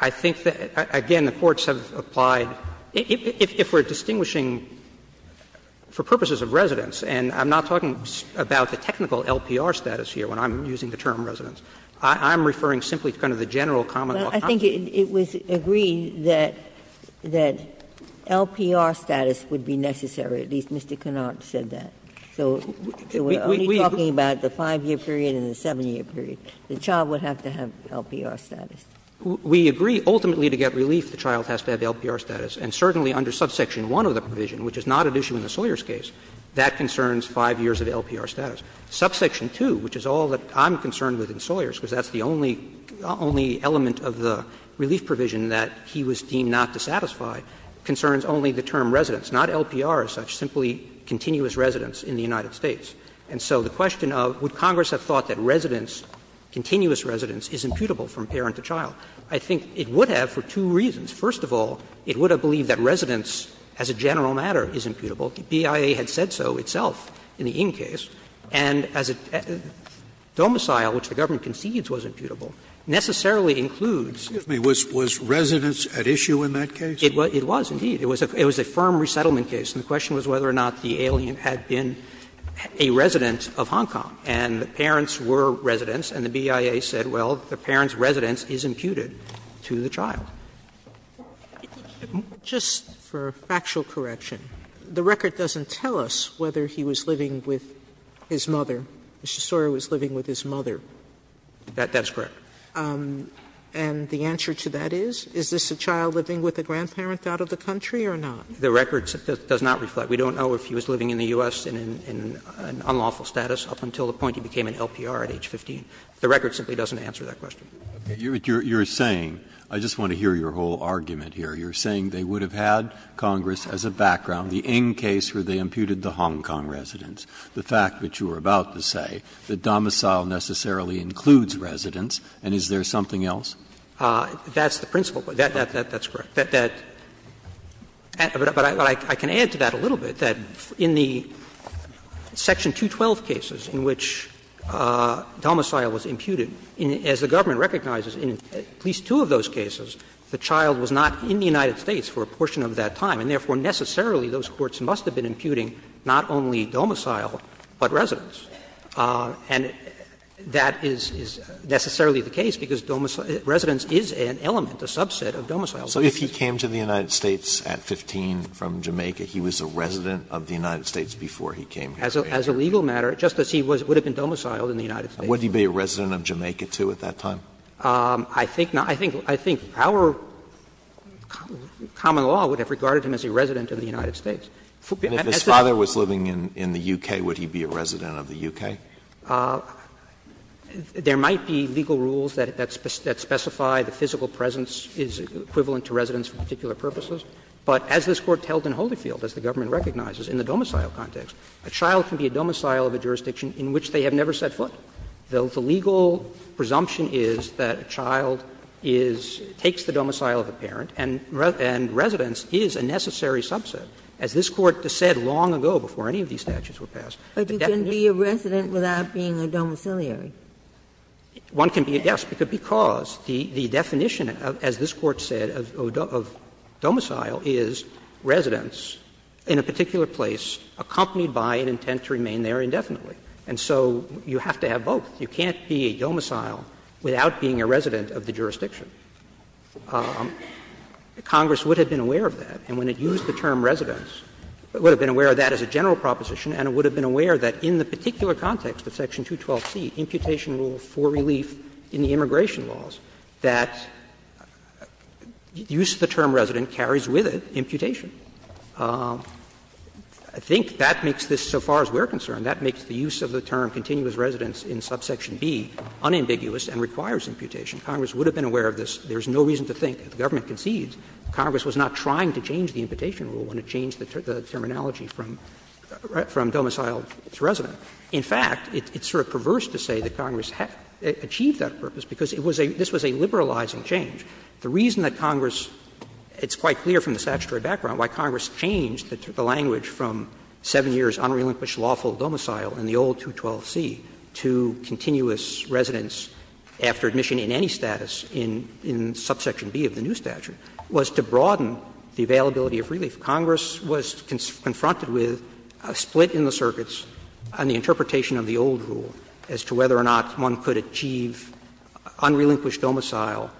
I think that, again, the courts have applied, if we're distinguishing for purposes of residence, and I'm not talking about the technical LPR status here when I'm using the term residence. I'm referring simply to kind of the general common law. Ginsburg. But I think it was agreed that LPR status would be necessary, at least Mr. Kennard said that. So we're only talking about the 5-year period and the 7-year period. The child would have to have LPR status. We agree ultimately to get relief, the child has to have LPR status. And certainly under subsection 1 of the provision, which is not at issue in the Sawyers case, that concerns 5 years of LPR status. Subsection 2, which is all that I'm concerned with in Sawyers, because that's the only element of the relief provision that he was deemed not to satisfy, concerns only the term residence, not LPR as such, simply continuous residence in the United States. And so the question of would Congress have thought that residence, continuous residence, is imputable from parent to child. I think it would have for two reasons. First of all, it would have believed that residence as a general matter is imputable. The BIA had said so itself in the Ng case. And as a domicile, which the government concedes was imputable, necessarily includes. Scalia Excuse me. Was residence at issue in that case? It was, indeed. It was a firm resettlement case. And the question was whether or not the alien had been a resident of Hong Kong. And the parents were residents, and the BIA said, well, the parent's residence is imputed to the child. Sotomayor Just for factual correction, the record doesn't tell us whether he was living with his mother. Mr. Soro was living with his mother. That's correct. And the answer to that is, is this a child living with a grandparent out of the country or not? The record does not reflect. We don't know if he was living in the U.S. in unlawful status up until the point he became an LPR at age 15. The record simply doesn't answer that question. Breyer You're saying, I just want to hear your whole argument here, you're saying they would have had, Congress, as a background, the Ng case where they imputed the Hong Kong residence, the fact that you were about to say that domicile necessarily includes residence, and is there something else? That's the principle. That's correct. But I can add to that a little bit, that in the Section 212 cases in which domicile was imputed, as the government recognizes, in at least two of those cases, the child was not in the United States for a portion of that time, and therefore necessarily those courts must have been imputing not only domicile, but residence. And that is necessarily the case, because residence is an element, a subset of domicile. Alito So if he came to the United States at 15 from Jamaica, he was a resident of the United States before he came here? Breyer As a legal matter, just as he would have been domiciled in the United States. Alito Would he be a resident of Jamaica, too, at that time? Breyer I think not. I think our common law would have regarded him as a resident of the United States. Alito And if his father was living in the U.K., would he be a resident of the U.K.? Breyer There might be legal rules that specify the physical presence is equivalent to residence for particular purposes, but as this Court held in Holyfield, as the in which they have never set foot. The legal presumption is that a child is – takes the domicile of a parent, and residence is a necessary subset. As this Court said long ago, before any of these statutes were passed, the definition of domicile is that a child can be a resident without being a domiciliary. One can be a guest because the definition, as this Court said, of domicile is residence in a particular place accompanied by an intent to remain there indefinitely. And so you have to have both. You can't be a domicile without being a resident of the jurisdiction. Congress would have been aware of that, and when it used the term residence, it would have been aware of that as a general proposition, and it would have been aware that in the particular context of Section 212c, imputation rule for relief in the immigration laws, that use of the term resident carries with it imputation. I think that makes this, so far as we are concerned, that makes the use of the term continuous residence in subsection B unambiguous and requires imputation. Congress would have been aware of this. There is no reason to think that the government concedes Congress was not trying to change the imputation rule when it changed the terminology from domicile to resident. In fact, it's sort of perverse to say that Congress achieved that purpose because it was a – this was a liberalizing change. The reason that Congress – it's quite clear from the statutory background why Congress changed the language from 7 years unrelinquished lawful domicile in the old 212c to continuous residence after admission in any status in subsection B of the new statute was to broaden the availability of relief. Congress was confronted with a split in the circuits on the interpretation of the old rule as to whether or not one could achieve unrelinquished domicile,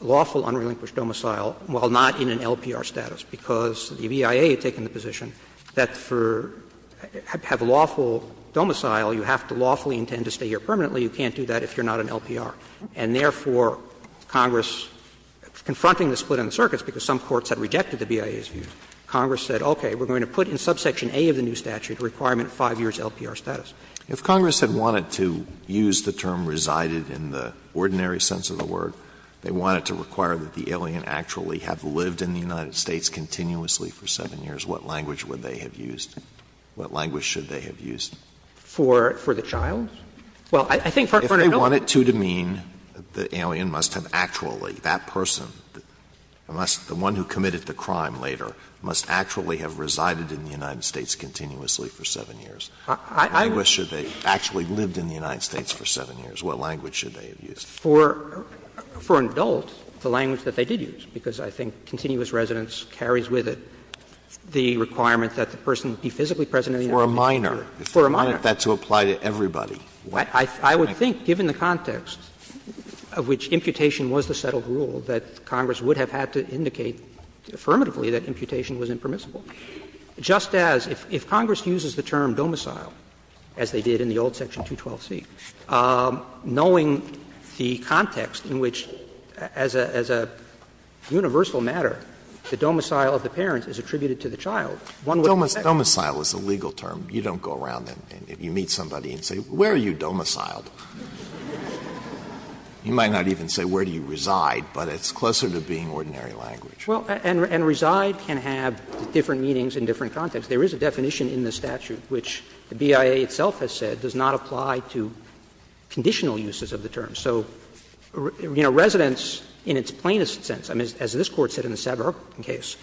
lawful unrelinquished domicile while not in an LPR status, because the BIA had taken the position that for – have lawful domicile, you have to lawfully intend to stay here permanently. You can't do that if you're not an LPR. And therefore, Congress, confronting the split in the circuits, because some courts had rejected the BIA's view, Congress said, okay, we're going to put in subsection A of the new statute a requirement of 5 years LPR status. If Congress had wanted to use the term resided in the ordinary sense of the word, they wanted to require that the alien actually have lived in the United States continuously for 7 years, what language would they have used? What language should they have used? For the child? Well, I think for an adult. If they wanted to demean the alien must have actually, that person, the one who committed the crime later, must actually have resided in the United States continuously for 7 years. I wish that they actually lived in the United States for 7 years. What language should they have used? For an adult, the language that they did use, because I think continuous residence carries with it the requirement that the person be physically present in the United States for 7 years. For a minor, if they wanted that to apply to everybody. I would think, given the context of which imputation was the settled rule, that Congress would have had to indicate affirmatively that imputation was impermissible. Just as if Congress uses the term domicile, as they did in the old section 212c, knowing the context in which, as a universal matter, the domicile of the parent is attributed to the child, one would expect that. Alitoson Domicile is a legal term. You don't go around and you meet somebody and say, where are you domiciled? You might not even say where do you reside, but it's closer to being ordinary language. Well, and reside can have different meanings in different contexts. There is a definition in the statute which the BIA itself has said does not apply to conditional uses of the term. So, you know, residence in its plainest sense, as this Court said in the Sabarucan case,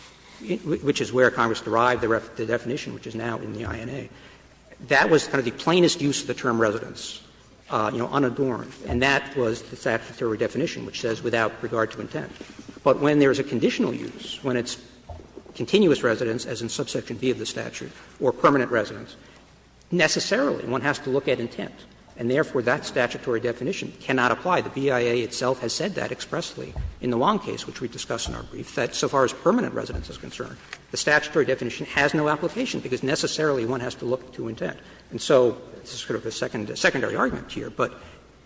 which is where Congress derived the definition, which is now in the INA, that was kind of the plainest use of the term residence, you know, unadorned. And that was the statutory definition, which says without regard to intent. But when there is a conditional use, when it's continuous residence, as in subsection B of the statute, or permanent residence, necessarily one has to look at intent. And therefore, that statutory definition cannot apply. The BIA itself has said that expressly in the Wong case, which we discussed in our brief, that so far as permanent residence is concerned, the statutory definition has no application because necessarily one has to look to intent. And so this is sort of a secondary argument here, but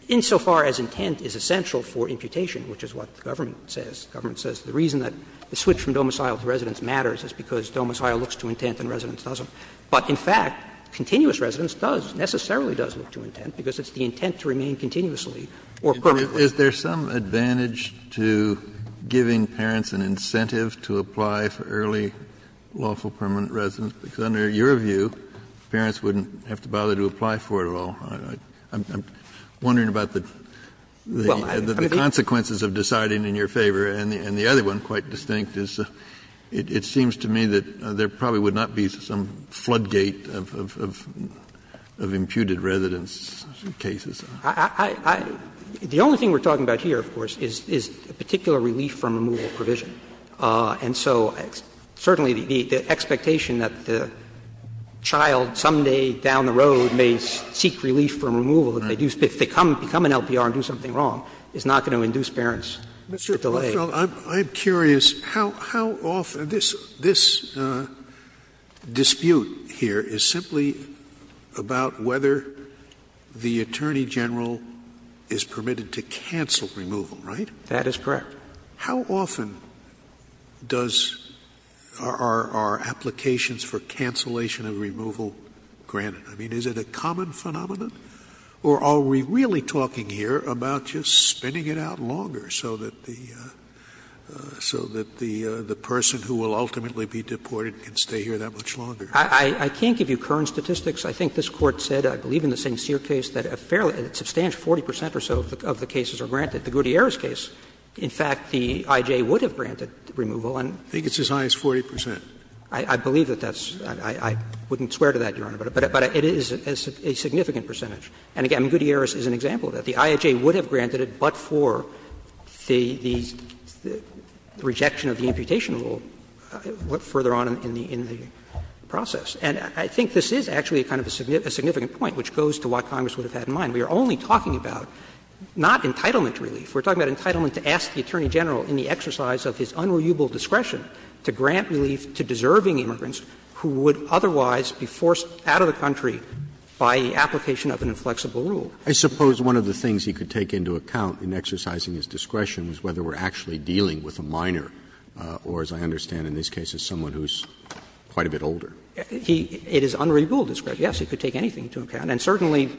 insofar as intent is essential for imputation, which is what the government says, the government says the reason that the switch from domicile to residence matters is because domicile looks to intent and residence doesn't. But, in fact, continuous residence does, necessarily does look to intent because it's the intent to remain continuously or permanently. Kennedy, is there some advantage to giving parents an incentive to apply for early lawful permanent residence? Because under your view, parents wouldn't have to bother to apply for it at all. I'm wondering about the consequences of deciding in your favor. And the other one, quite distinct, is it seems to me that there probably would not be some floodgate of imputed residence cases. I, I, the only thing we're talking about here, of course, is a particular relief from removal provision. And so certainly the expectation that the child someday down the road may seek relief from removal if they do, if they become an LPR and do something wrong is not going to induce parents to delay. Scalia. Mr. Rothfeld, I'm curious, how often, this, this dispute here is simply about whether the Attorney General is permitted to cancel removal, right? That is correct. How often does, are, are applications for cancellation of removal granted? I mean, is it a common phenomenon? Or are we really talking here about just spinning it out longer so that the, so that the, the person who will ultimately be deported can stay here that much longer? I, I can't give you current statistics. I think this Court said, I believe in the St. Cyr case, that a fairly, a substantial 40 percent or so of the cases are granted. The Gutierrez case, in fact, the IJ would have granted removal and. I think it's as high as 40 percent. But, but it is a significant percentage. And again, Gutierrez is an example of that. The IJ would have granted it, but for the, the rejection of the imputation rule further on in the, in the process. And I think this is actually kind of a significant point, which goes to what Congress would have had in mind. We are only talking about not entitlement relief. We are talking about entitlement to ask the Attorney General in the exercise of his unreliable discretion to grant relief to deserving immigrants who would otherwise be forced out of the country by the application of an inflexible rule. Roberts. I suppose one of the things he could take into account in exercising his discretion was whether we are actually dealing with a minor or, as I understand in this case, as someone who is quite a bit older. He, it is unreliable discretion. Yes, he could take anything into account. And certainly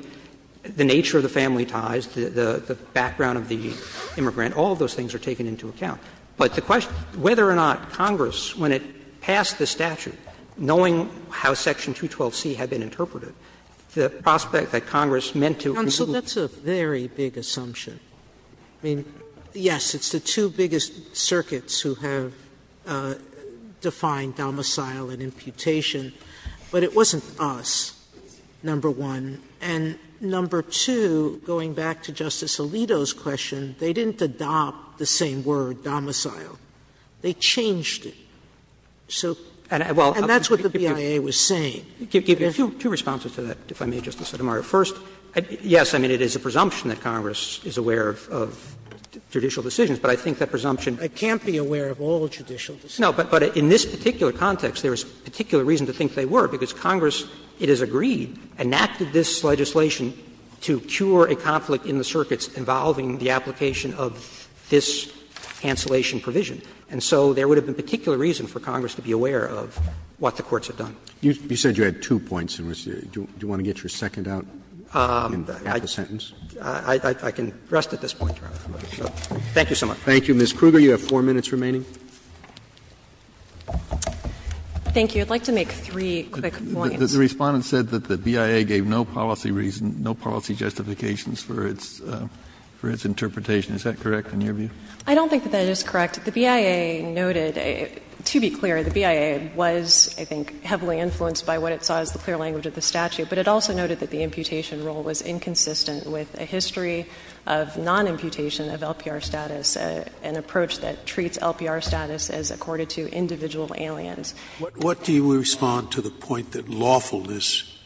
the nature of the family ties, the, the background of the immigrant, all of those things are taken into account. But the question, whether or not Congress, when it passed the statute, knowing how section 212C had been interpreted, the prospect that Congress meant to. Sotomayor Counsel, that's a very big assumption. I mean, yes, it's the two biggest circuits who have defined domicile and imputation, but it wasn't us, number one. And number two, going back to Justice Alito's question, they didn't adopt the same word, domicile. They changed it. So, and that's what the beyond. And that's what the IAEA was saying. Roberts Give you two responses to that, if I may, Justice Sotomayor. First, yes, I mean, it is a presumption that Congress is aware of judicial decisions, but I think that presumption. Sotomayor I can't be aware of all judicial decisions. Roberts No, but in this particular context, there is particular reason to think they were, because Congress, it is agreed, enacted this legislation to cure a conflict in the circuits involving the application of this cancellation provision. And so there would have been particular reason for Congress to be aware of what the courts have done. Roberts You said you had two points in which you do want to get your second out at the sentence. I can rest at this point, Your Honor. Thank you so much. Thank you. Ms. Kruger, you have four minutes remaining. Kruger Thank you. I would like to make three quick points. Kennedy The Respondent said that the BIA gave no policy reason, no policy justifications for its interpretation. Is that correct in your view? Kruger I don't think that that is correct. The BIA noted, to be clear, the BIA was, I think, heavily influenced by what it saw as the clear language of the statute, but it also noted that the imputation rule was inconsistent with a history of non-imputation of LPR status, an approach that treats LPR status as accorded to individual aliens. Scalia What do you respond to the point that lawfulness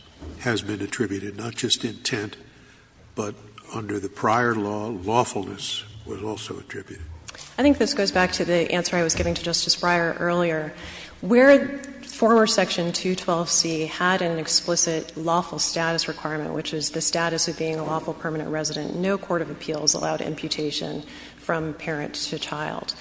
has been attributed, not just intent, but under the prior law, lawfulness was also attributed? Kruger I think this goes back to the answer I was giving to Justice Breyer earlier. Where former Section 212C had an explicit lawful status requirement, which is the status of being a lawful permanent resident, no court of appeals allowed imputation from parent to child.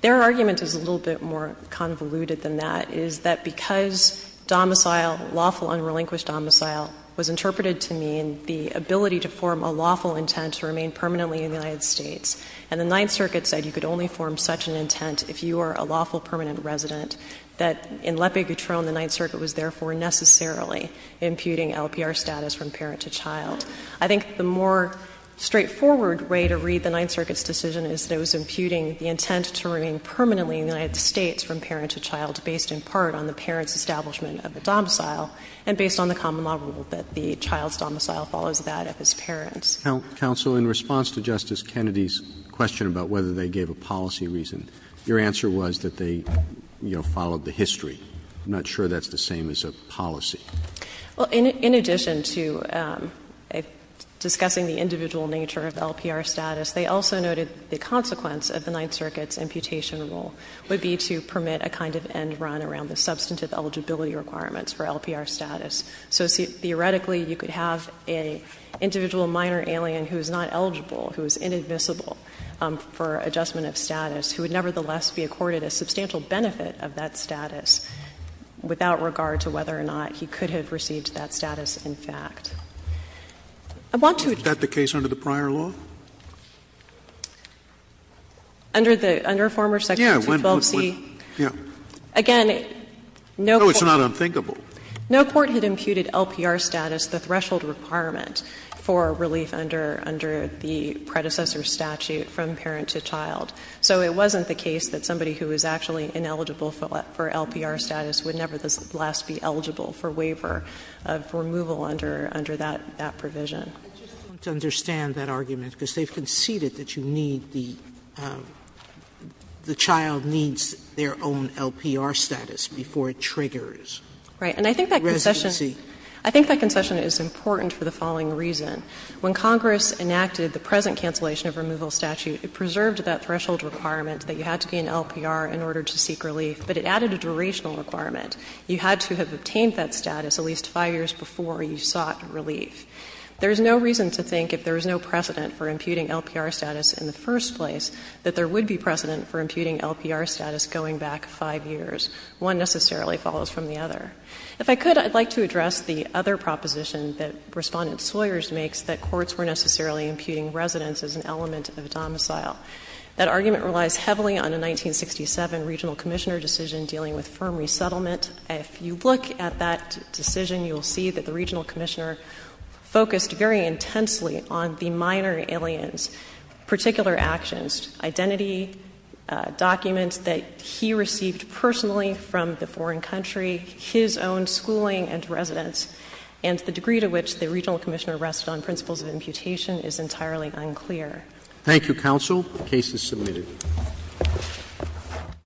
Their argument is a little bit more convoluted than that, is that because domicile, lawful unrelinquished domicile, was interpreted to mean the ability to form a lawful intent to remain permanently in the United States, and the Ninth Circuit said you could only form such an intent if you are a lawful permanent resident, that in L'Epi Gutron, the Ninth Circuit was therefore necessarily imputing LPR status from parent to child. I think the more straightforward way to read the Ninth Circuit's decision is that it was imputing the intent to remain permanently in the United States from parent to child, based in part on the parent's establishment of a domicile, and based on the common law rule that the child's domicile follows that of his parent's. Roberts, in response to Justice Kennedy's question about whether they gave a policy reason, your answer was that they, you know, followed the history. I'm not sure that's the same as a policy. Well, in addition to discussing the individual nature of LPR status, they also noted the consequence of the Ninth Circuit's imputation rule would be to permit a kind of end run around the substantive eligibility requirements for LPR status. So theoretically, you could have an individual minor alien who is not eligible, who is inadmissible for adjustment of status, who would nevertheless be accorded a substantial benefit of that status without regard to whether or not he could have received that status in fact. I want to address the case under the prior law. Under the under former section 212C. Yeah. Again, no court. No, it's not unthinkable. No court had imputed LPR status, the threshold requirement for relief under the predecessor statute from parent to child. So it wasn't the case that somebody who was actually ineligible for LPR status would nevertheless be eligible for waiver of removal under that provision. I just want to understand that argument, because they've conceded that you need the child needs their own LPR status before it triggers. Right. And I think that concession is important for the following reason. When Congress enacted the present cancellation of removal statute, it preserved that threshold requirement that you had to be in LPR in order to seek relief, but it added a durational requirement. You had to have obtained that status at least 5 years before you sought relief. There is no reason to think if there is no precedent for imputing LPR status in the first place that there would be precedent for imputing LPR status going back 5 years. One necessarily follows from the other. If I could, I'd like to address the other proposition that Respondent Sawyers makes, that courts were necessarily imputing residence as an element of domicile. That argument relies heavily on a 1967 regional commissioner decision dealing with firm resettlement. If you look at that decision, you'll see that the regional commissioner focused very intensely on the minor alien's particular actions, identity, documents that he received personally from the foreign country. His own schooling and residence. And the degree to which the regional commissioner rested on principles of imputation is entirely unclear. Thank you, counsel. The case is submitted.